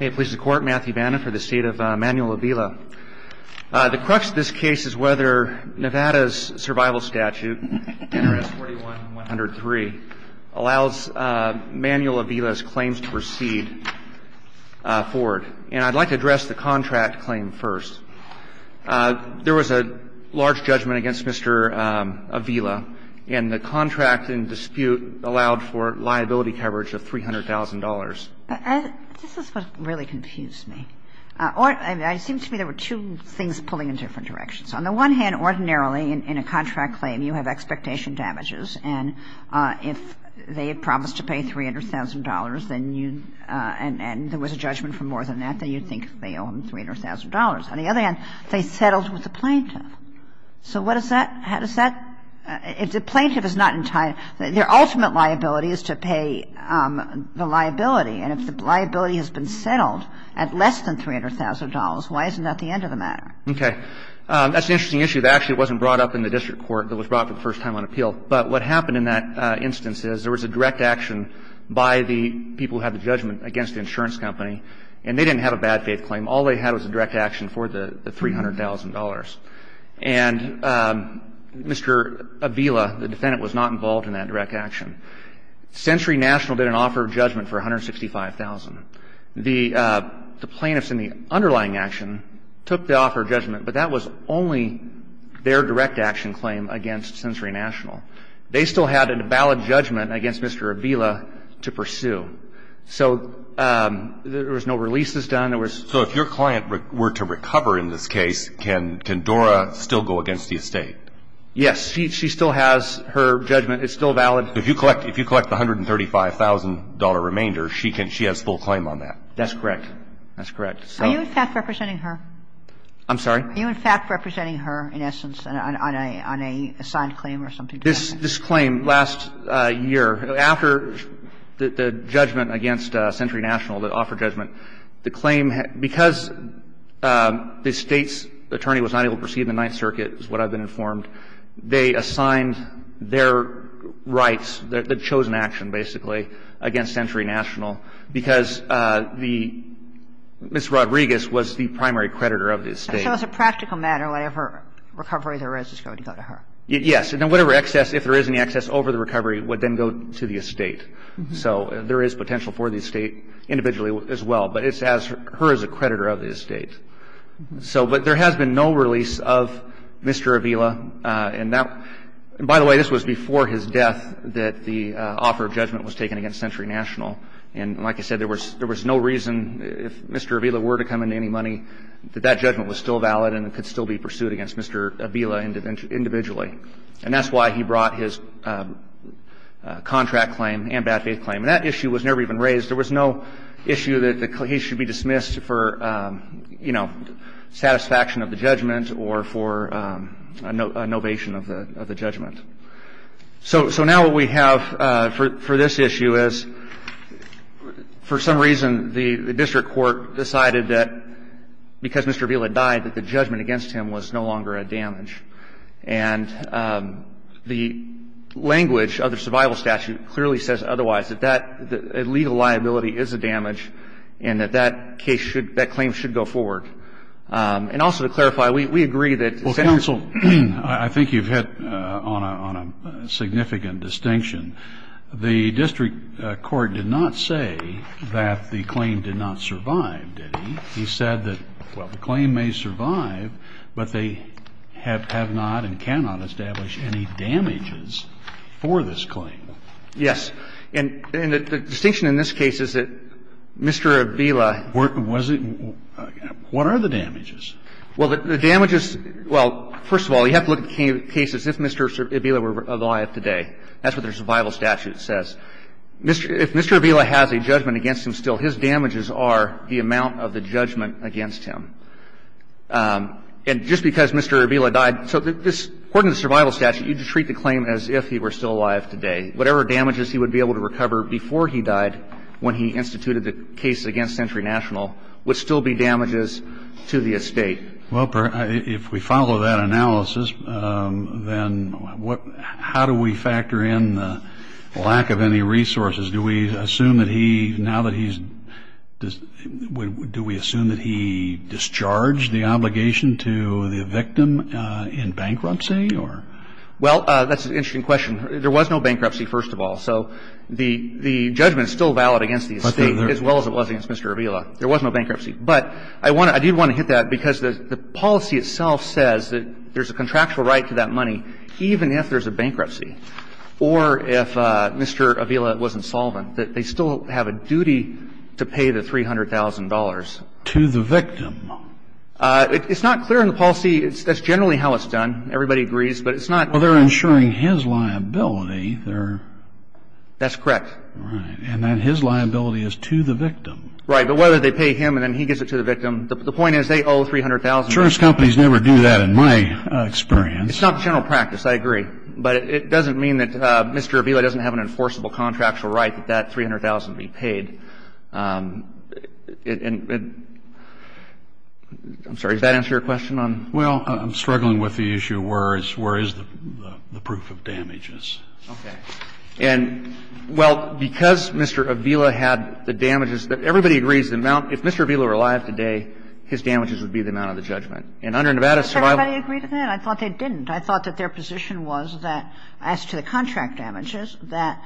Matthew Vanna for the State of Manuel Avila. The crux of this case is whether Nevada's survival statute, NRS 41103, allows Manuel Avila's claims to proceed forward. And I'd like to address the contract claim first. There was a large judgment against Mr. Avila and the contract in dispute allowed for liability coverage of $300,000. This is what really confused me. I mean, it seems to me there were two things pulling in different directions. On the one hand, ordinarily, in a contract claim, you have expectation damages, and if they had promised to pay $300,000, and there was a judgment for more than that, then you'd think they owe him $300,000. On the other hand, they didn't. If the plaintiff is not entitled, their ultimate liability is to pay the liability. And if the liability has been settled at less than $300,000, why isn't that the end of the matter? Okay. That's an interesting issue. Actually, it wasn't brought up in the district court. It was brought up for the first time on appeal. But what happened in that instance is there was a direct action by the people who had the judgment against the insurance company, and they didn't have a bad faith claim. All they had was a direct action for the $300,000. And Mr. Avila, the defendant, was not involved in that direct action. Sensory National did an offer of judgment for $165,000. The plaintiffs in the underlying action took the offer of judgment, but that was only their direct action claim against Sensory National. They still had a valid judgment against Mr. Avila to pursue. So there was no releases done. There was no other action. So in that case, can Dora still go against the estate? Yes. She still has her judgment. It's still valid. If you collect the $135,000 remainder, she has full claim on that. That's correct. That's correct. Are you, in fact, representing her? I'm sorry? Are you, in fact, representing her in essence on a signed claim or something like that? This claim last year, after the judgment against Sensory National, the offer of judgment, the claim, because the State's attorney was not able to proceed in the Ninth Circuit, is what I've been informed, they assigned their rights, the chosen action, basically, against Sensory National because the Mrs. Rodriguez was the primary creditor of the estate. So as a practical matter, whatever recovery there is, it's going to go to her. Yes. And whatever excess, if there is any excess over the recovery, would then go to the estate. So there is potential for the estate individually as well. But it's as her as a creditor of the estate. So but there has been no release of Mr. Avila. And that, by the way, this was before his death that the offer of judgment was taken against Sensory National. And like I said, there was no reason, if Mr. Avila were to come into any money, that that judgment was still valid and could still be pursued against Mr. Avila individually. And that's why he brought his contract claim and bad faith claim. And that issue was never even raised. There was no issue that he should be dismissed for, you know, satisfaction of the judgment or for a novation of the judgment. So now what we have for this issue is, for some reason, the district court decided that because Mr. Avila died, that the judgment against him was no longer a damage. And the language of the survival statute clearly says otherwise, that that legal liability is a damage, and that that case should, that claim should go forward. And also to clarify, we agree that... Well, counsel, I think you've hit on a significant distinction. The district court did not say that the claim did not survive, did he? He said that, well, the claim may survive, but they have not and cannot establish any damages for this claim. Yes. And the distinction in this case is that Mr. Avila... Was it? What are the damages? Well, the damages, well, first of all, you have to look at cases if Mr. Avila were alive today. That's what their survival statute says. If Mr. Avila has a judgment against him still, his damages are the amount of the judgment against him. And just because Mr. Avila died, so this, according to the survival statute, you'd treat the claim as if he were still alive today. Whatever damages he would be able to recover before he died, when he instituted the case against Century National, would still be damages to the estate. Well, if we follow that analysis, then what, how do we factor in the lack of any resources? Do we assume that he, now that he's, do we assume that he discharged the obligation to the victim in bankruptcy, or? Well, that's an interesting question. There was no bankruptcy, first of all. So the judgment is still valid against the estate, as well as it was against Mr. Avila. There was no bankruptcy. But I did want to hit that because the policy itself says that there's a contractual right to that money, even if there's a bankruptcy, or if Mr. Avila wasn't solvent, that they still have a duty to pay the $300,000. To the victim? It's not clear in the policy. That's generally how it's done. Everybody agrees. But it's not. Well, they're insuring his liability. They're. That's correct. Right. And then his liability is to the victim. Right. But whether they pay him and then he gives it to the victim, the point is they owe $300,000. Insurance companies never do that, in my experience. It's not the general practice. I agree. But it doesn't mean that Mr. Avila doesn't have an enforceable contractual right that that $300,000 be paid. And I'm sorry, does that answer your question on? Well, I'm struggling with the issue where is the proof of damages. Okay. And, well, because Mr. Avila had the damages, everybody agrees the amount — if Mr. Avila paid $300,000 to the victim, if he did he would have to pay $200,000 to the victim. So it's a different issue. And under Nevada's survival — Does everybody agree to that? I thought they didn't. I thought that their position was that as to the contract damages that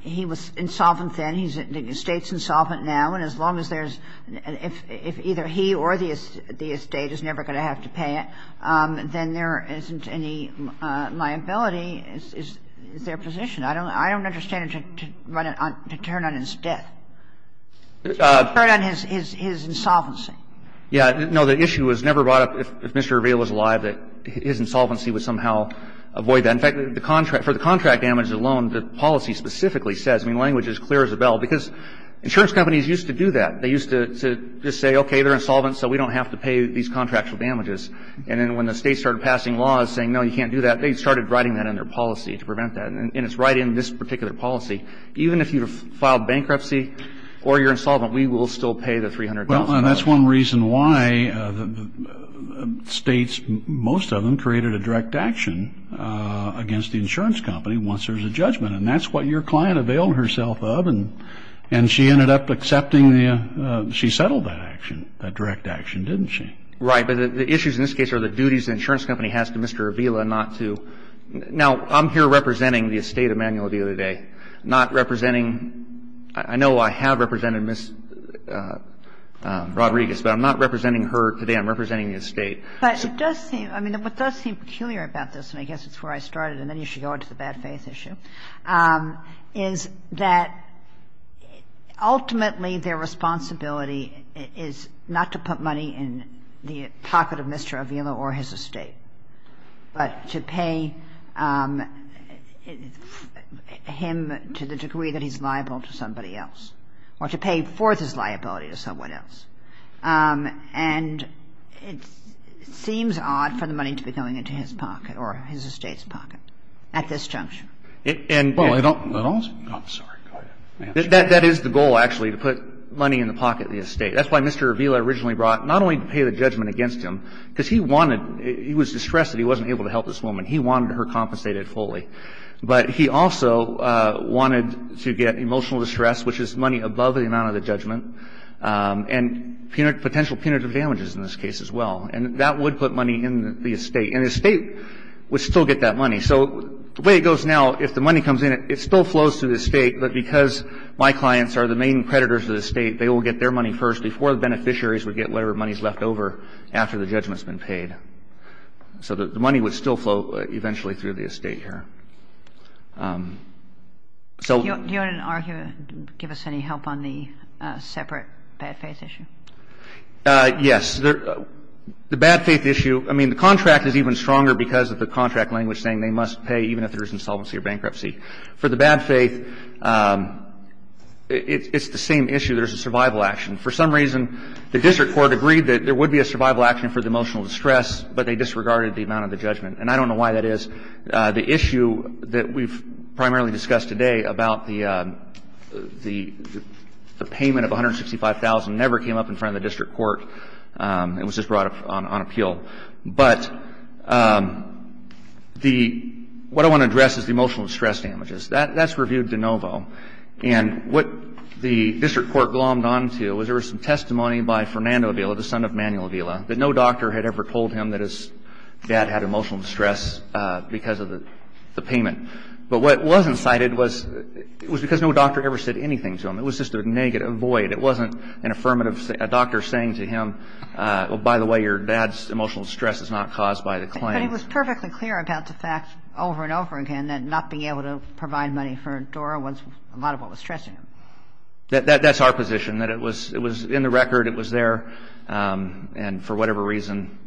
he was insolvent then, he's the State's insolvent now, and as long as there's — if either he or the State is never going to have to pay it, then there isn't any liability, is their position. I don't understand to turn on his death, to turn on his insolvency. Yeah, no, the issue was never brought up, if Mr. Avila was alive, that his insolvency would somehow avoid that. In fact, for the contract damages alone, the policy specifically says — I mean, the language is clear as a bell, because insurance companies used to do that. They used to just say, okay, they're insolvent, so we don't have to pay these contractual damages. And then when the States started passing laws saying, no, you can't do that, they started writing that in their policy to prevent that. And it's right in this particular policy. Even if you filed bankruptcy or you're insolvent, we will still pay the $300,000. Well, and that's one reason why the States, most of them, created a direct action against the insurance company once there's a judgment. And that's what your client availed herself of. And she ended up accepting the — she settled that action, that direct action, didn't she? Right. But the issues in this case are the duties the insurance company has to Mr. Avila not to — now, I'm here representing the estate of Manuel Avila today, not representing — I know I have represented Ms. Rodriguez, but I'm not representing her today. I'm representing the estate. But it does seem — I mean, what does seem peculiar about this, and I guess it's where I started, and then you should go into the bad faith issue, is that ultimately their responsibility is not to put money in the pocket of Mr. Avila or his estate, but to pay him to the degree that he's liable to somebody else, or to pay forth his liability to someone else. And it seems odd for the money to be going into his pocket, or his estate's pocket, at this juncture. Well, I don't — that is the goal, actually, to put money in the pocket of the estate. That's why Mr. Avila originally brought — not only to pay the judgment against him, because he wanted — he was distressed that he wasn't able to help this woman. He wanted her compensated fully. But he also wanted to get emotional distress, which is money above the amount of the judgment. And punitive — potential punitive damages in this case as well. And that would put money in the estate. And the estate would still get that money. So the way it goes now, if the money comes in, it still flows through the estate, but because my clients are the main creditors of the estate, they will get their money first before the beneficiaries would get whatever money is left over after the judgment's been paid. So the money would still flow eventually through the estate here. So — Do you want to argue — give us any help on the separate bad faith issue? Yes. The bad faith issue — I mean, the contract is even stronger because of the contract language saying they must pay even if there is insolvency or bankruptcy. For the bad faith, it's the same issue. There's a survival action. For some reason, the district court agreed that there would be a survival action for the emotional distress, but they disregarded the amount of the judgment. And I don't know why that is. The issue that we've primarily discussed today about the payment of $165,000 never came up in front of the district court. It was just brought up on appeal. But the — what I want to address is the emotional distress damages. That's reviewed de novo. And what the district court glommed onto was there was some testimony by Fernando Avila, the son of Manuel Avila, that no doctor had ever told him that his dad had emotional distress because of the payment. But what wasn't cited was — it was because no doctor ever said anything to him. It was just a negative — a void. It wasn't an affirmative — a doctor saying to him, well, by the way, your dad's emotional distress is not caused by the claim. But it was perfectly clear about the fact over and over again that not being able to provide money for Dora was a lot of what was stressing him. That's our position, that it was — it was in the record. It was there. And for whatever reason,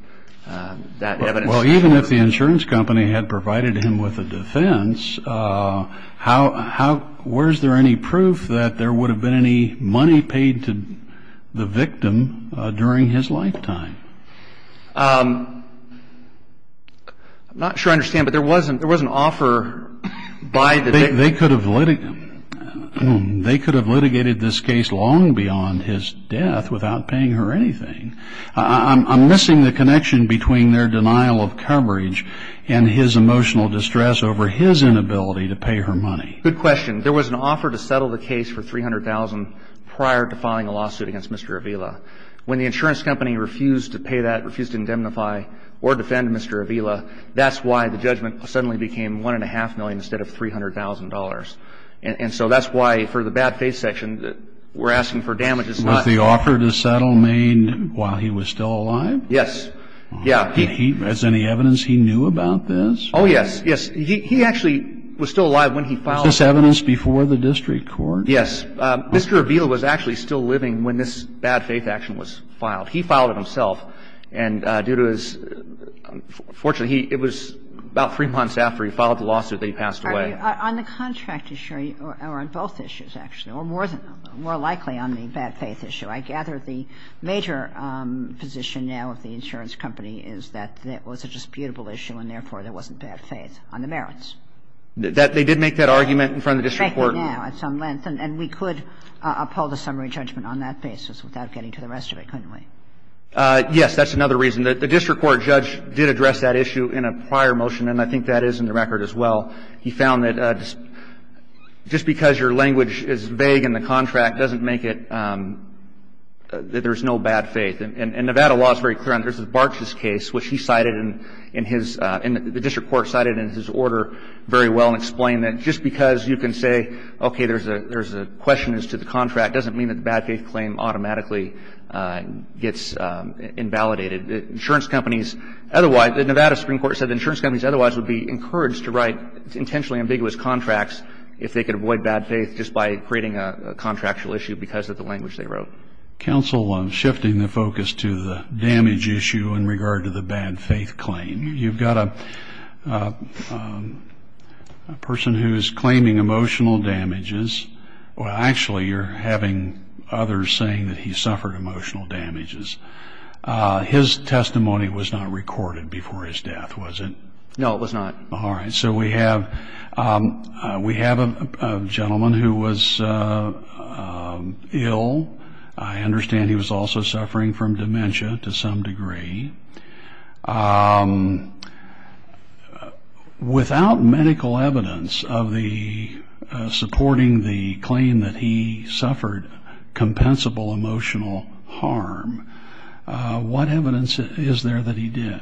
that evidence — Well, even if the insurance company had provided him with a defense, how — where's there any proof that there would have been any money paid to the victim during his lifetime? I'm not sure I understand, but there was an offer by the — They could have litigated this case long beyond his death without paying her anything. I'm missing the connection between their denial of coverage and his emotional distress over his inability to pay her money. Good question. There was an offer to settle the case for $300,000 prior to filing a lawsuit against Mr. Avila. When the insurance company refused to pay that, refused to indemnify or defend Mr. Avila, that's why the judgment suddenly became $1.5 million instead of $300,000. And so that's why, for the bad faith section, we're asking for damages not — Was the offer to settle made while he was still alive? Yes. Yeah. Did he — is there any evidence he knew about this? Oh, yes. Yes. He actually was still alive when he filed — Is this evidence before the district court? Yes. Mr. Avila was actually still living when this bad faith action was filed. He filed it himself, and due to his — fortunately, he — it was about three months after he filed the lawsuit that he passed away. On the contract issue, or on both issues, actually, or more than — more likely on the bad faith issue, I gather the major position now of the insurance company is that it was a disputable issue and, therefore, there wasn't bad faith on the merits. That — they did make that argument in front of the district court. And we're asking for damages now at some length. And we could uphold a summary judgment on that basis without getting to the rest of it, couldn't we? Yes. That's another reason. The district court judge did address that issue in a prior motion, and I think that is in the record as well. He found that just because your language is vague in the contract doesn't make it — that there's no bad faith. And Nevada law is very clear on this. Mr. Bartsch's case, which he cited in his — the district court cited in his order very well and explained that just because you can say, okay, there's a question as to the contract, doesn't mean that the bad faith claim automatically gets invalidated. Insurance companies otherwise — the Nevada Supreme Court said that insurance companies otherwise would be encouraged to write intentionally ambiguous contracts if they could avoid bad faith just by creating a contractual issue because of the language they wrote. Counsel, I'm shifting the focus to the damage issue in regard to the bad faith claim. You've got a person who is claiming emotional damages. Well, actually, you're having others saying that he suffered emotional damages. His testimony was not recorded before his death, was it? No, it was not. All right. So we have — we have a gentleman who was ill. I understand he was also suffering from dementia to some degree. Without medical evidence of the — supporting the claim that he suffered compensable emotional harm, what evidence is there that he did?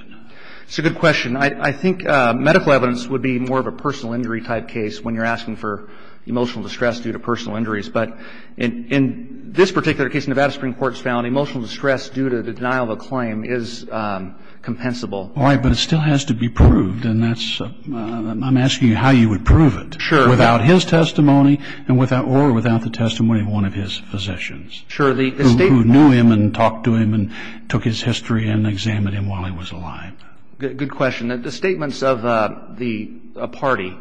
It's a good question. I think medical evidence would be more of a personal injury type case when you're asking for emotional distress due to personal injuries. But in this particular case, Nevada Supreme Court has found emotional distress due to the denial of a claim is compensable. All right. But it still has to be proved. And that's — I'm asking you how you would prove it — Sure. — without his testimony and without — or without the testimony of one of his physicians — Sure. — who knew him and talked to him and took his history and examined him while he was alive. Good question. The statements of the party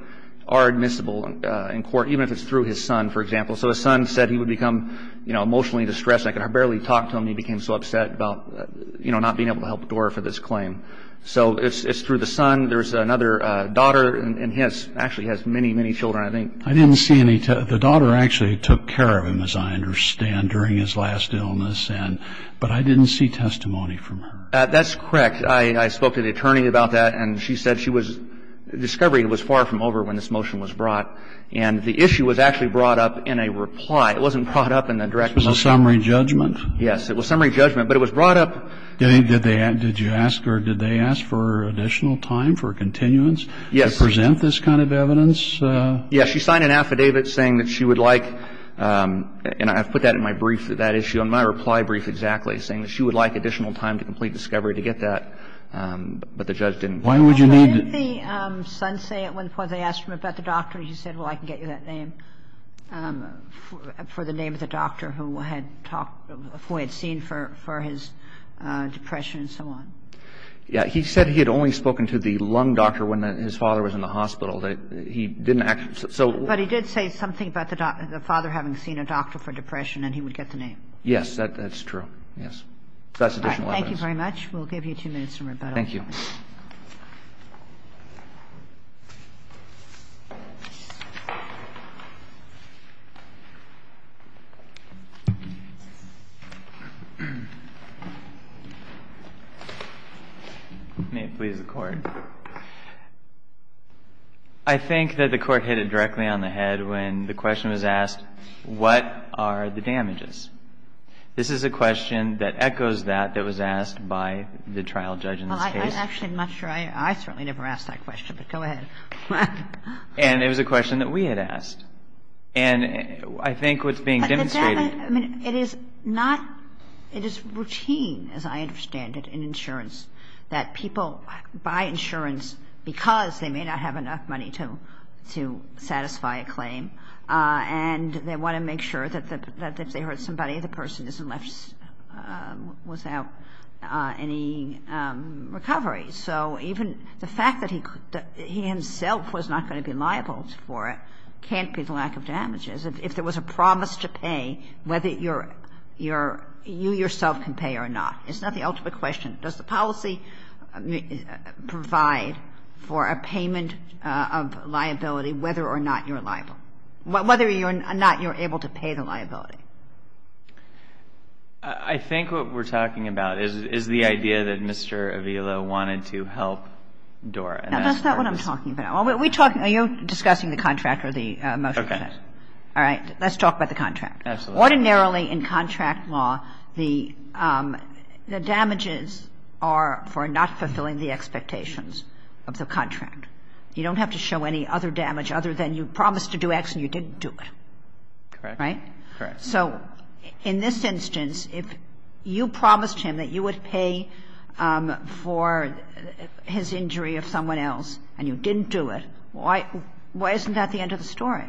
are admissible in court, even if it's through his son, for example. So his son said he would become, you know, emotionally distressed. I could barely talk to him. He became so upset about, you know, not being able to help adore for this claim. So it's through the son. There's another daughter, and he has — actually has many, many children, I think. I didn't see any — the daughter actually took care of him, as I understand, during his last illness. And — but I didn't see testimony from her. That's correct. I spoke to the attorney about that, and she said she was — discovery was far from over when this motion was brought. And the issue was actually brought up in a reply. It wasn't brought up in the direct — It was a summary judgment. Yes. It was summary judgment. But it was brought up — Did they — did you ask, or did they ask for additional time for continuance — Yes. — to present this kind of evidence? Yes. She signed an affidavit saying that she would like — and I've put that in my brief, that issue, in my reply brief, exactly, saying that she would like additional time to complete discovery to get that, but the judge didn't — Why would you need — Well, didn't the son say at one point — they asked him about the doctor, and he said, well, I can get you that name for the name of the doctor who had talked — who he had seen for his depression and so on? Yeah. He said he had only spoken to the lung doctor when his father was in the hospital. He didn't actually — so — But he did say something about the father having seen a doctor for depression, and he would get the name. Yes. That's true. Yes. That's additional evidence. All right. Thank you very much. We'll give you two minutes for rebuttal. Thank you. May it please the Court. I think that the Court hit it directly on the head when the question was asked, what are the damages? This is a question that echoes that that was asked by the trial judge in this case. Well, I'm actually not sure — I certainly never asked that question, but go ahead. And it was a question that we had asked. And I think what's being demonstrated — But the damage — I mean, it is not — it is routine, as I understand it, in insurance, that people buy insurance because they may not have enough money to satisfy a claim, and they want to make sure that if they hurt somebody, the person isn't left without any recovery. So even the fact that he himself was not going to be liable for it can't be the lack of damages. If there was a promise to pay, whether you yourself can pay or not, it's not the ultimate question. Does the policy provide for a payment of liability whether or not you're liable? Whether or not you're able to pay the liability. I think what we're talking about is the idea that Mr. Avila wanted to help Dora. Now, that's not what I'm talking about. Are we talking — are you discussing the contract or the motion? Okay. All right. Let's talk about the contract. Absolutely. Ordinarily, in contract law, the damages are for not fulfilling the expectations of the contract. You don't have to show any other damage other than you promised to do X and you didn't do it. Correct. Right? Correct. So in this instance, if you promised him that you would pay for his injury of someone else and you didn't do it, why isn't that the end of the story?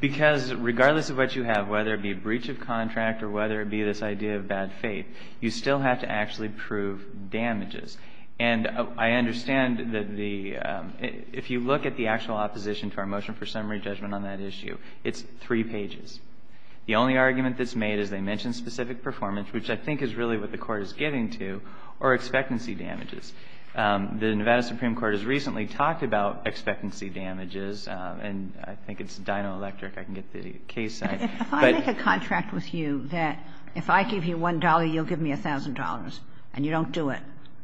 Because regardless of what you have, whether it be a breach of contract or whether it be this idea of bad faith, you still have to actually prove damages. And I understand that the — if you look at the actual opposition to our motion for summary judgment on that issue, it's three pages. The only argument that's made is they mentioned specific performance, which I think is really what the Court is getting to, or expectancy damages. The Nevada Supreme Court has recently talked about expectancy damages, and I think it's Dino Electric. I can get the case site. If I make a contract with you that if I give you $1, you'll give me $1,000 and you don't do it,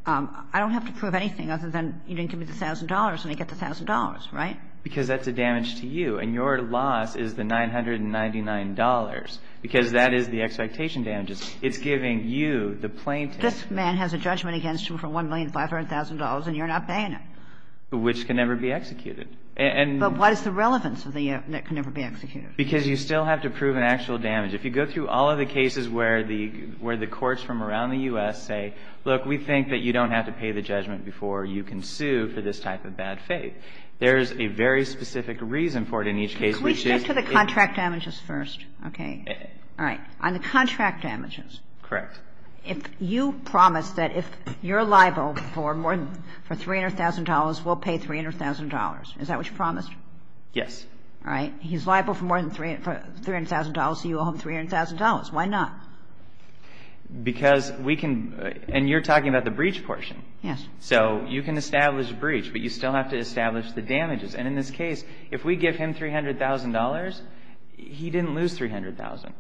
I don't have to prove anything other than you didn't give me the $1,000 and I get the $1,000, right? Because that's a damage to you. And your loss is the $999, because that is the expectation damages. It's giving you the plaintiff. This man has a judgment against him for $1,500,000 and you're not paying him. Which can never be executed. And — But what is the relevance of the — that can never be executed? Because you still have to prove an actual damage. If you go through all of the cases where the courts from around the U.S. say, look, we think that you don't have to pay the judgment before you can sue for this type of bad faith. There's a very specific reason for it in each case. Can we stick to the contract damages first? Okay. All right. On the contract damages. Correct. If you promise that if you're liable for more than — for $300,000, we'll pay $300,000. Is that what you promised? Yes. All right. He's liable for more than $300,000, so you owe him $300,000. Why not? Because we can — and you're talking about the breach portion. Yes. So you can establish a breach, but you still have to establish the damages. And in this case, if we give him $300,000, he didn't lose $300,000.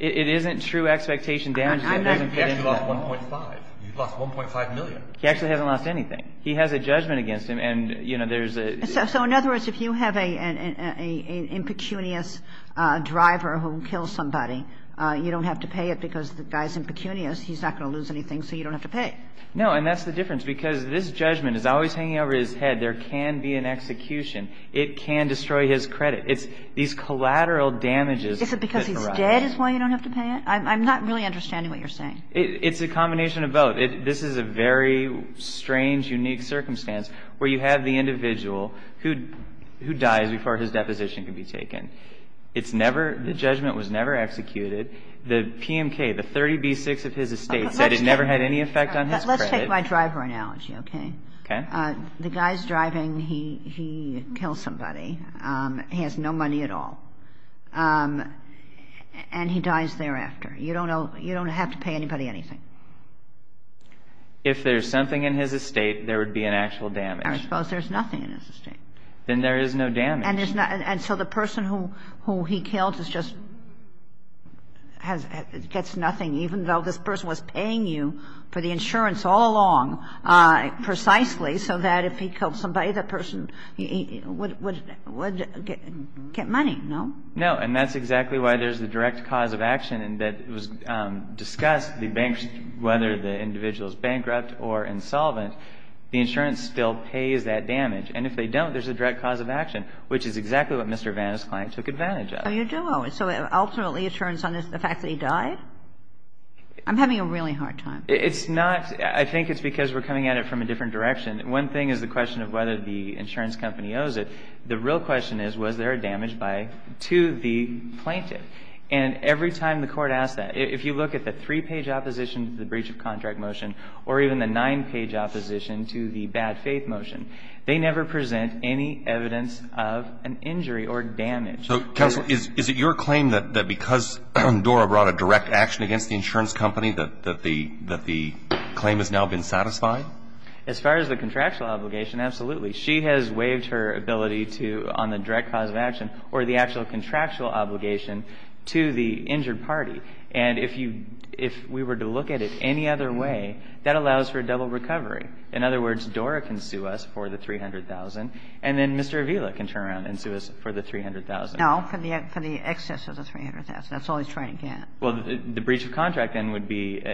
It isn't true expectation damages. I'm not — He actually lost 1.5. He lost 1.5 million. He actually hasn't lost anything. He has a judgment against him. And, you know, there's a — So in other words, if you have a — an impecunious driver who kills somebody, you don't have to pay it because the guy's impecunious. He's not going to lose anything, so you don't have to pay. No. And that's the difference. Because this judgment is always hanging over his head. There can be an execution. It can destroy his credit. It's these collateral damages. Is it because he's dead is why you don't have to pay it? I'm not really understanding what you're saying. It's a combination of both. This is a very strange, unique circumstance where you have the individual who — who dies before his deposition can be taken. It's never — the judgment was never executed. The PMK, the 30B6 of his estate, said it never had any effect on his credit. Let's take my driver analogy, okay? Okay. The guy's driving. He — he kills somebody. He has no money at all. And he dies thereafter. You don't know — you don't have to pay anybody anything. If there's something in his estate, there would be an actual damage. I suppose there's nothing in his estate. Then there is no damage. And there's not — and so the person who — who he killed is just — gets nothing, even though this person was paying you for the insurance all along precisely so that if he killed somebody, that person would — would get money, no? No. And that's exactly why there's the direct cause of action, and that was discussed, the — whether the individual is bankrupt or insolvent, the insurance still pays that damage. And if they don't, there's a direct cause of action, which is exactly what Mr. Vanna's client took advantage of. So you don't. So ultimately, it turns on the fact that he died? I'm having a really hard time. It's not — I think it's because we're coming at it from a different direction. One thing is the question of whether the insurance company owes it. The real question is, was there a damage by — to the plaintiff? And every time the Court asks that, if you look at the three-page opposition to the breach of contract motion or even the nine-page opposition to the bad faith motion, they never present any evidence of an injury or damage. So, Counsel, is it your claim that because Dora brought a direct action against the insurance company that the — that the claim has now been satisfied? As far as the contractual obligation, absolutely. She has waived her ability to — on the direct cause of action or the actual contractual obligation to the injured party. And if you — if we were to look at it any other way, that allows for a double recovery. In other words, Dora can sue us for the $300,000, and then Mr. Avila can turn around and sue us for the $300,000. No, for the excess of the $300,000. That's all he's trying to get. Well, the breach of contract then would be —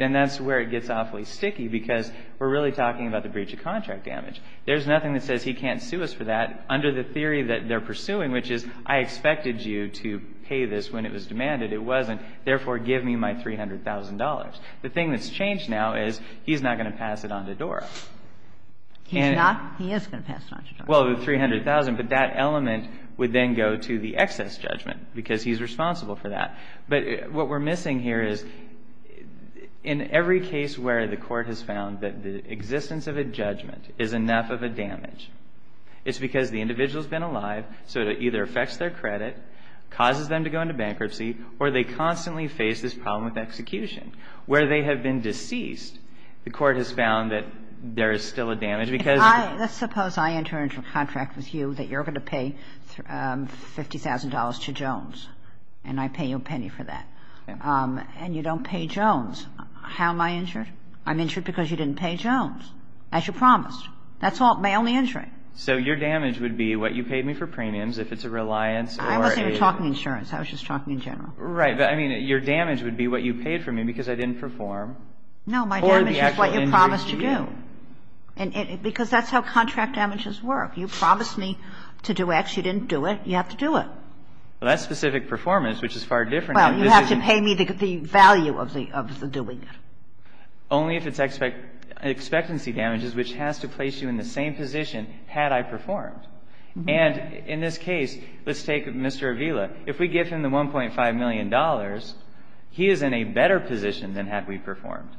and that's where it gets awfully sticky, because we're really talking about the breach of contract damage. There's nothing that says he can't sue us for that under the theory that they're pursuing, which is, I expected you to pay this when it was demanded. It wasn't. Therefore, give me my $300,000. The thing that's changed now is he's not going to pass it on to Dora. He's not? He is going to pass it on to Dora. Well, the $300,000, but that element would then go to the excess judgment, because he's responsible for that. But what we're missing here is, in every case where the Court has found that the existence of a judgment is enough of a damage, it's because the individual's been alive, so it either affects their credit, causes them to go into bankruptcy, or they constantly face this problem with execution. Where they have been deceased, the Court has found that there is still a damage because — I — let's suppose I enter into a contract with you that you're going to pay $50,000 to Jones, and I pay you a penny for that. And you don't pay Jones. How am I injured? I'm injured because you didn't pay Jones, as you promised. That's all — my only injury. So your damage would be what you paid me for premiums, if it's a reliance or a — I wasn't even talking insurance. I was just talking in general. Right. But, I mean, your damage would be what you paid for me because I didn't perform. No. My damage is what you promised to do, because that's how contract damages work. You promised me to do X. You didn't do it. You have to do it. Well, that's specific performance, which is far different. Well, you have to pay me the value of the — of the doing it. Only if it's expectancy damages, which has to place you in the same position had I performed. And in this case, let's take Mr. Avila. If we give him the $1.5 million, he is in a better position than had we performed.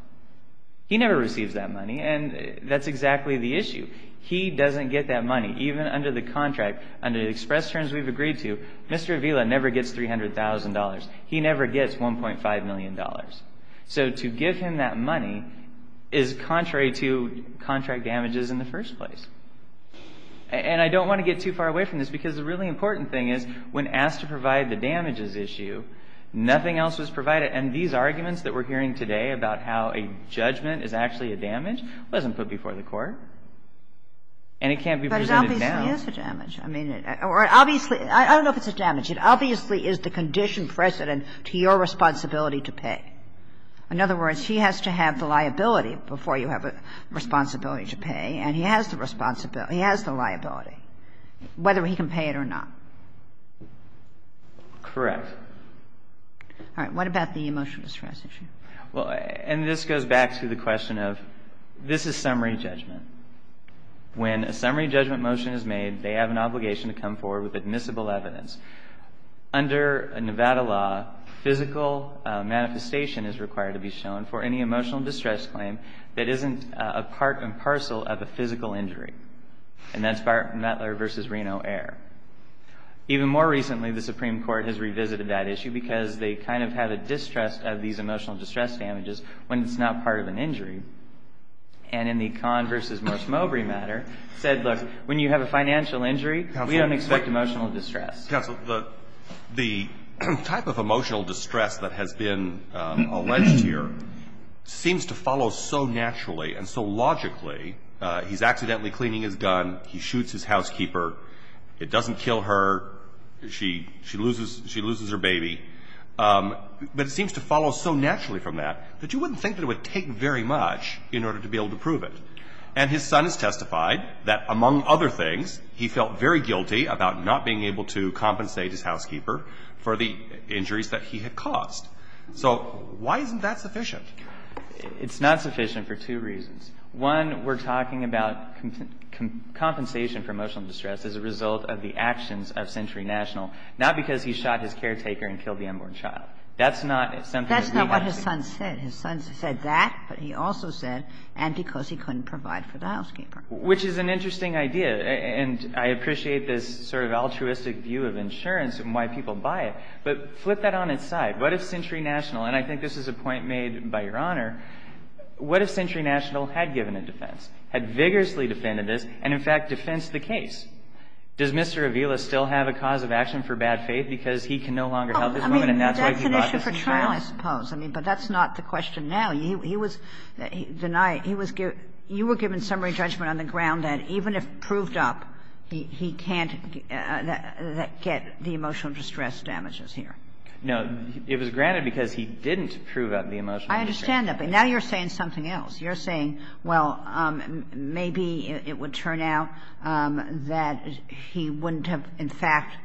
He never receives that money, and that's exactly the issue. He doesn't get that money. Even under the contract, under the express terms we've agreed to, Mr. Avila never gets $300,000. He never gets $1.5 million. So to give him that money is contrary to contract damages in the first place. And I don't want to get too far away from this, because the really important thing is when asked to provide the damages issue, nothing else was provided. And these arguments that we're hearing today about how a judgment is actually a damage wasn't put before the Court. And it can't be presented now. But it obviously is a damage. I mean — or obviously — I don't know if it's a damage. It obviously is the condition precedent to your responsibility to pay. In other words, he has to have the liability before you have a responsibility to pay, and he has the responsibility — he has the liability, whether he can pay it or not. Correct. All right. What about the emotional distress issue? Well, and this goes back to the question of — this is summary judgment. When a summary judgment motion is made, they have an obligation to come forward with admissible evidence. Under Nevada law, physical manifestation is required to be shown for any emotional distress claim that isn't a part and parcel of a physical injury. And that's Butler v. Reno Air. Even more recently, the Supreme Court has revisited that issue because they kind of have a distrust of these emotional distress damages when it's not part of an injury. And in the Kahn v. Morse-Mowbray matter, said, look, when you have a financial injury, we don't expect emotional distress. Counsel, the type of emotional distress that has been alleged here seems to follow so naturally and so logically — he's accidentally cleaning his gun, he shoots his housekeeper, it doesn't kill her, she loses her baby — but it seems to follow so naturally from that that you wouldn't think that it would take very much in order to be able to prove it. And his son has testified that, among other things, he felt very guilty about not being able to compensate his housekeeper for the injuries that he had caused. So why isn't that sufficient? It's not sufficient for two reasons. One, we're talking about compensation for emotional distress as a result of the actions of Century National, not because he shot his caretaker and killed the unborn child. That's not something that we want to see. That's not what his son said. His son said that, but he also said, and because he couldn't provide for the housekeeper. Which is an interesting idea, and I appreciate this sort of altruistic view of insurance and why people buy it. But flip that on its side. What if Century National — and I think this is a point made by Your Honor — what if Century National had given a defense, had vigorously defended this, and, in fact, defensed the case? Does Mr. Avila still have a cause of action for bad faith because he can no longer help his woman, and that's why he brought this into trial? I mean, that's an issue for trial, I suppose, but that's not the question now. He was denied — he was — you were given summary judgment on the ground that even if proved up, he can't get the emotional distress damages here. No. It was granted because he didn't prove up the emotional distress. I understand that, but now you're saying something else. You're saying, well, maybe it would turn out that he wouldn't have, in fact,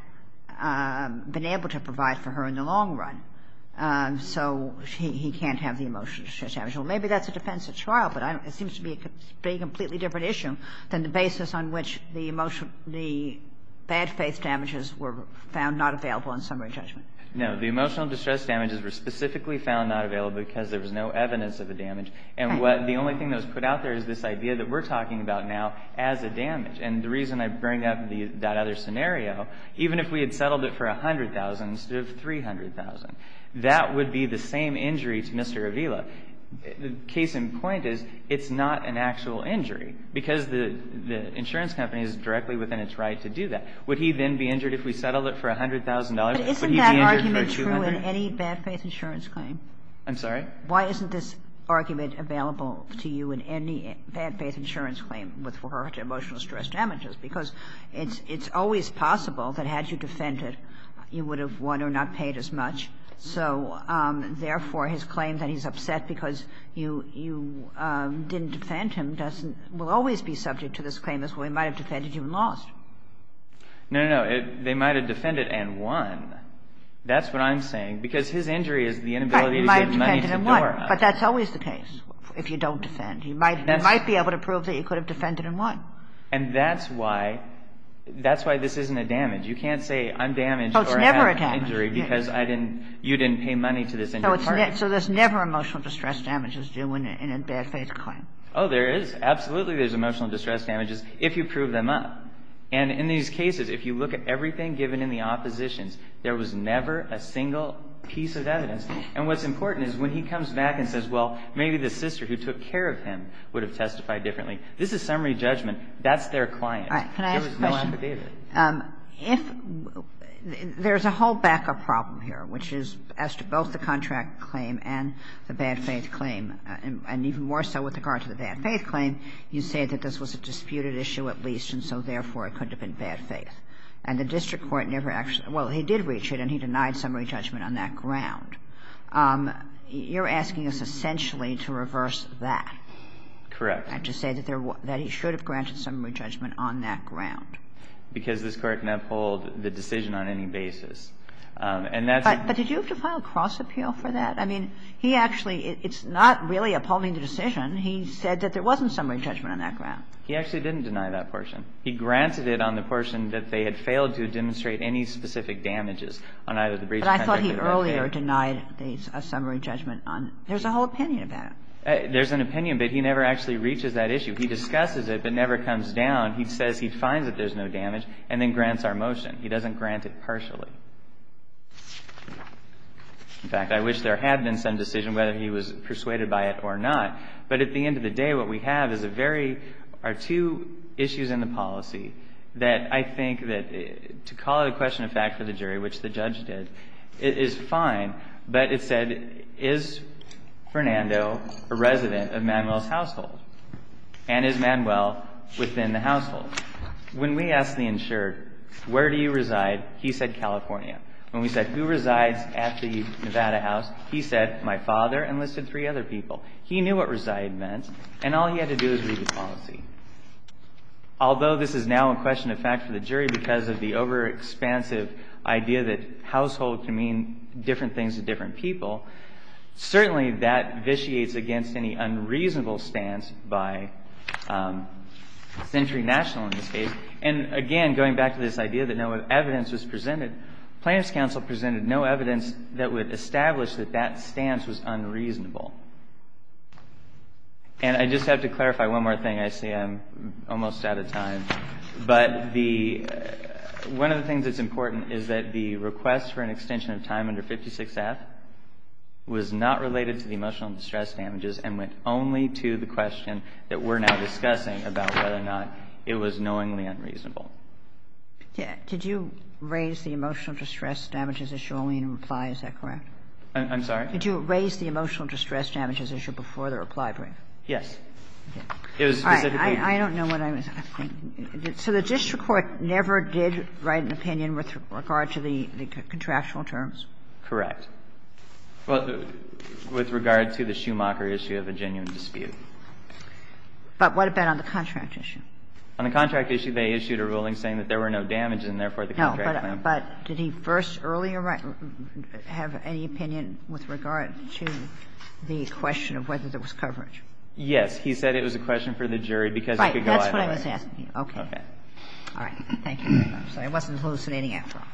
been able to provide for her in the long run, so he can't have the emotional distress damages. Well, maybe that's a defense at trial, but I don't — it seems to be a completely different issue than the basis on which the emotional — the bad faith damages were found not available on summary judgment. No. The emotional distress damages were specifically found not available because there was no evidence of the damage, and what — the only thing that was put out there is this idea that we're talking about now as a damage. And the reason I bring up the — that other scenario, even if we had settled it for $100,000 instead of $300,000, that would be the same injury to Mr. Avila. The case in point is, it's not an actual injury because the insurance company is directly within its right to do that. Would he then be injured if we settled it for $100,000? But isn't that argument true in any bad faith insurance claim? I'm sorry? Why isn't this argument available to you in any bad faith insurance claim with regard to emotional stress damages? Because it's always possible that had you defended, you would have won or not paid as much. So therefore, his claim that he's upset because you didn't defend him doesn't — will always be subject to this claim as well. He might have defended you and lost. No, no, no. They might have defended and won. That's what I'm saying. Because his injury is the inability to get money to the door. But that's always the case if you don't defend. You might be able to prove that you could have defended and won. And that's why — that's why this isn't a damage. You can't say I'm damaged or have an injury because I didn't — you didn't pay money to this injured party. So there's never emotional distress damages due in a bad faith claim. Oh, there is. Absolutely there's emotional distress damages if you prove them up. And in these cases, if you look at everything given in the oppositions, there was never a single piece of evidence. And what's important is when he comes back and says, well, maybe the sister who took care of him would have testified differently, this is summary judgment. That's their client. There was no affidavit. If — there's a whole backup problem here, which is as to both the contract claim and the bad faith claim, and even more so with regard to the bad faith claim, you say that this was a disputed issue at least. And so, therefore, it could have been bad faith. And the district court never actually — well, he did reach it, and he denied summary judgment on that ground. You're asking us essentially to reverse that. Correct. And to say that there — that he should have granted summary judgment on that ground. Because this Court can uphold the decision on any basis. And that's — But did you have to file a cross appeal for that? I mean, he actually — it's not really upholding the decision. He said that there wasn't summary judgment on that ground. He actually didn't deny that portion. He granted it on the portion that they had failed to demonstrate any specific damages on either the breach of contract or the bad faith. But I thought he earlier denied a summary judgment on — there's a whole opinion about it. There's an opinion, but he never actually reaches that issue. He discusses it, but never comes down. He says he finds that there's no damage, and then grants our motion. He doesn't grant it partially. In fact, I wish there had been some decision whether he was persuaded by it or not. But at the end of the day, what we have is a very — are two issues in the policy that I think that — to call it a question of fact for the jury, which the judge did, is fine. But it said, is Fernando a resident of Manuel's household? And is Manuel within the household? When we asked the insured, where do you reside, he said California. When we said, who resides at the Nevada house, he said, my father, and listed three other people. He knew what reside meant, and all he had to do was read the policy. Although this is now a question of fact for the jury because of the overexpansive idea that household can mean different things to different people, certainly that vitiates against any unreasonable stance by Century National in this case. And again, going back to this idea that no evidence was presented, Plaintiff's Counsel presented no evidence that would establish that that stance was unreasonable. And I just have to clarify one more thing. I see I'm almost out of time. But the — one of the things that's important is that the request for an extension of time under 56F was not related to the emotional distress damages and went only to the question that we're now discussing about whether or not it was knowingly unreasonable. Kagan. Did you raise the emotional distress damages issue only in reply? Is that correct? I'm sorry? Did you raise the emotional distress damages issue before the reply brief? Yes. It was specifically to the district court never did write an opinion with regard to the contractual terms? Correct. Well, with regard to the Schumacher issue of a genuine dispute. But what about on the contract issue? On the contract issue, they issued a ruling saying that there were no damages and, therefore, the contract claim. No, but did he first earlier write — have any opinion with regard to the question of whether there was coverage? Yes. He said it was a question for the jury because it could go either way. Right. That's what I was asking. Okay. Okay. All right. Thank you. I'm sorry. I wasn't hallucinating after all.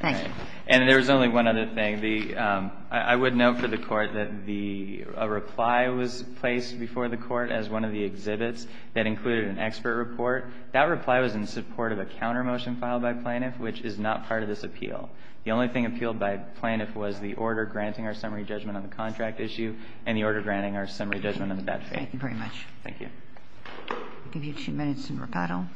Thank you. And there was only one other thing. The — I would note for the Court that the — a reply was placed before the Court as one of the exhibits that included an expert report. That reply was in support of a counter-motion filed by Plaintiff, which is not part of this appeal. The only thing appealed by Plaintiff was the order granting our summary judgment on the contract issue and the order granting our summary judgment on the statute. Thank you very much. Thank you. I'll give you two minutes in rebuttal.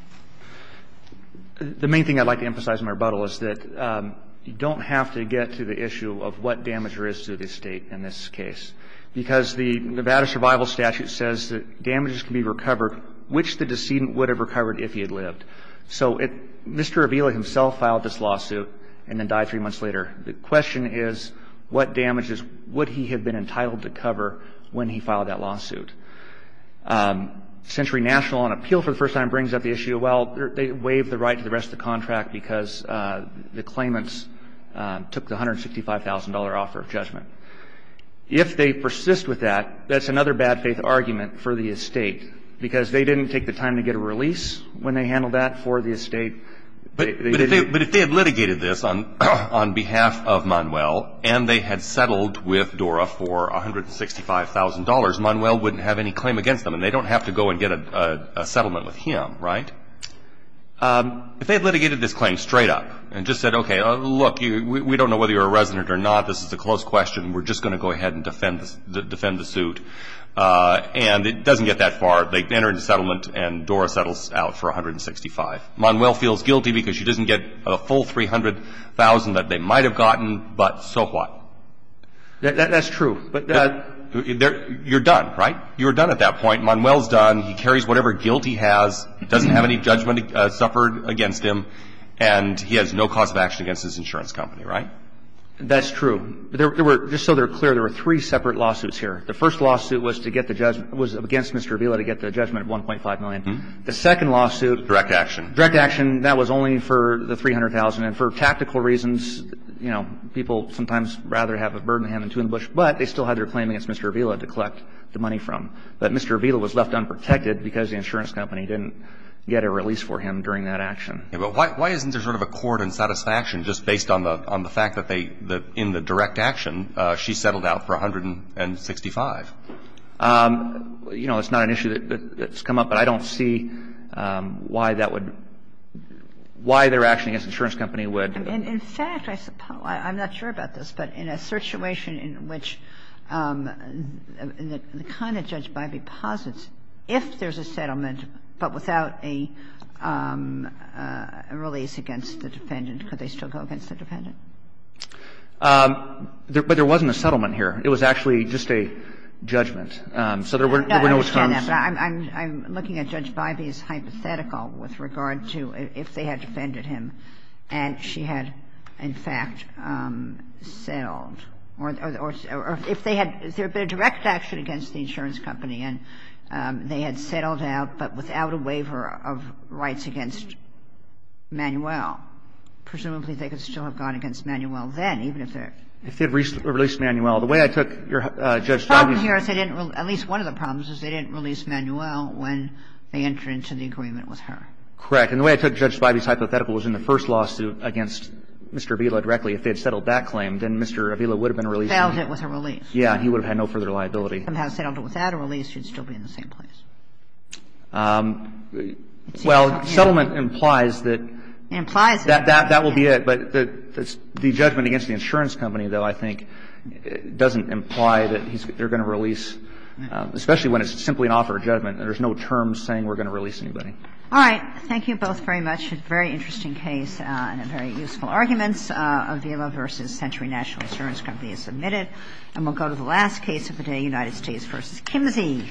The main thing I'd like to emphasize in my rebuttal is that you don't have to get to the issue of what damage there is to the estate in this case, because the Nevada survival statute says that damages can be recovered which the decedent would have recovered if he had lived. So it — Mr. Avila himself filed this lawsuit and then died three months later. The question is, what damages would he have been entitled to cover when he filed that lawsuit? Century National, on appeal for the first time, brings up the issue, well, they waived the right to the rest of the contract because the claimants took the $165,000 offer of judgment. If they persist with that, that's another bad faith argument for the estate, because they didn't take the time to get a release when they handled that for the estate. But if they had litigated this on behalf of Manuel and they had settled with DORA for $165,000, Manuel wouldn't have any claim against them and they don't have to go and get a settlement with him, right? If they had litigated this claim straight up and just said, okay, look, we don't know whether you're a resident or not, this is a close question, we're just going to go ahead and defend the suit, and it doesn't get that far. They enter into settlement and DORA settles out for $165,000. Manuel feels guilty because he doesn't get a full $300,000 that they might have gotten, but so what? That's true, but — You're done, right? You're done at that point. Manuel's done. He carries whatever guilt he has, doesn't have any judgment suffered against him, and he has no cause of action against his insurance company, right? That's true. There were — just so they're clear, there were three separate lawsuits here. The first lawsuit was to get the — was against Mr. Avila to get the judgment of $1.5 million. The second lawsuit — Direct action. Direct action. That was only for the $300,000, and for tactical reasons, you know, people sometimes rather have a bird in the hand than two in the bush, but they still had their claim against Mr. Avila to collect the money from. But Mr. Avila was left unprotected because the insurance company didn't get a release for him during that action. But why isn't there sort of accord and satisfaction just based on the fact that they — that in the direct action, she settled out for $165,000? You know, it's not an issue that's come up, but I don't see why that would — why their action against the insurance company would — In fact, I'm not sure about this, but in a situation in which the kind of judge Bybee posits, if there's a settlement, but without a release against the defendant, could they still go against the defendant? But there wasn't a settlement here. It was actually just a judgment. So there were no terms. I understand that, but I'm looking at Judge Bybee's hypothetical with regard to if they had defended him and she had, in fact, settled, or if they had — if there was a settlement, they could still go against Judge Bybee, and they had settled out, but without a waiver of rights against Manuel. Presumably, they could still have gone against Manuel then, even if they're — If they had released Manuel, the way I took Judge Bybee's — The problem here is they didn't — at least one of the problems is they didn't release Manuel when they entered into the agreement with her. Correct. And the way I took Judge Bybee's hypothetical was in the first lawsuit against Mr. Avila directly. If they had settled that claim, then Mr. Avila would have been released. Failed it with a release. Yeah. He would have had no further liability. If he had settled it without a release, he would still be in the same place. Well, settlement implies that — Implies it. That will be it. But the judgment against the insurance company, though, I think doesn't imply that they're going to release, especially when it's simply an offer of judgment. There's no term saying we're going to release anybody. All right. Thank you both very much. Very interesting case and very useful arguments. Avila v. Century National Insurance Company is submitted. And we'll go to the last case of the day, United States v. Kimsey.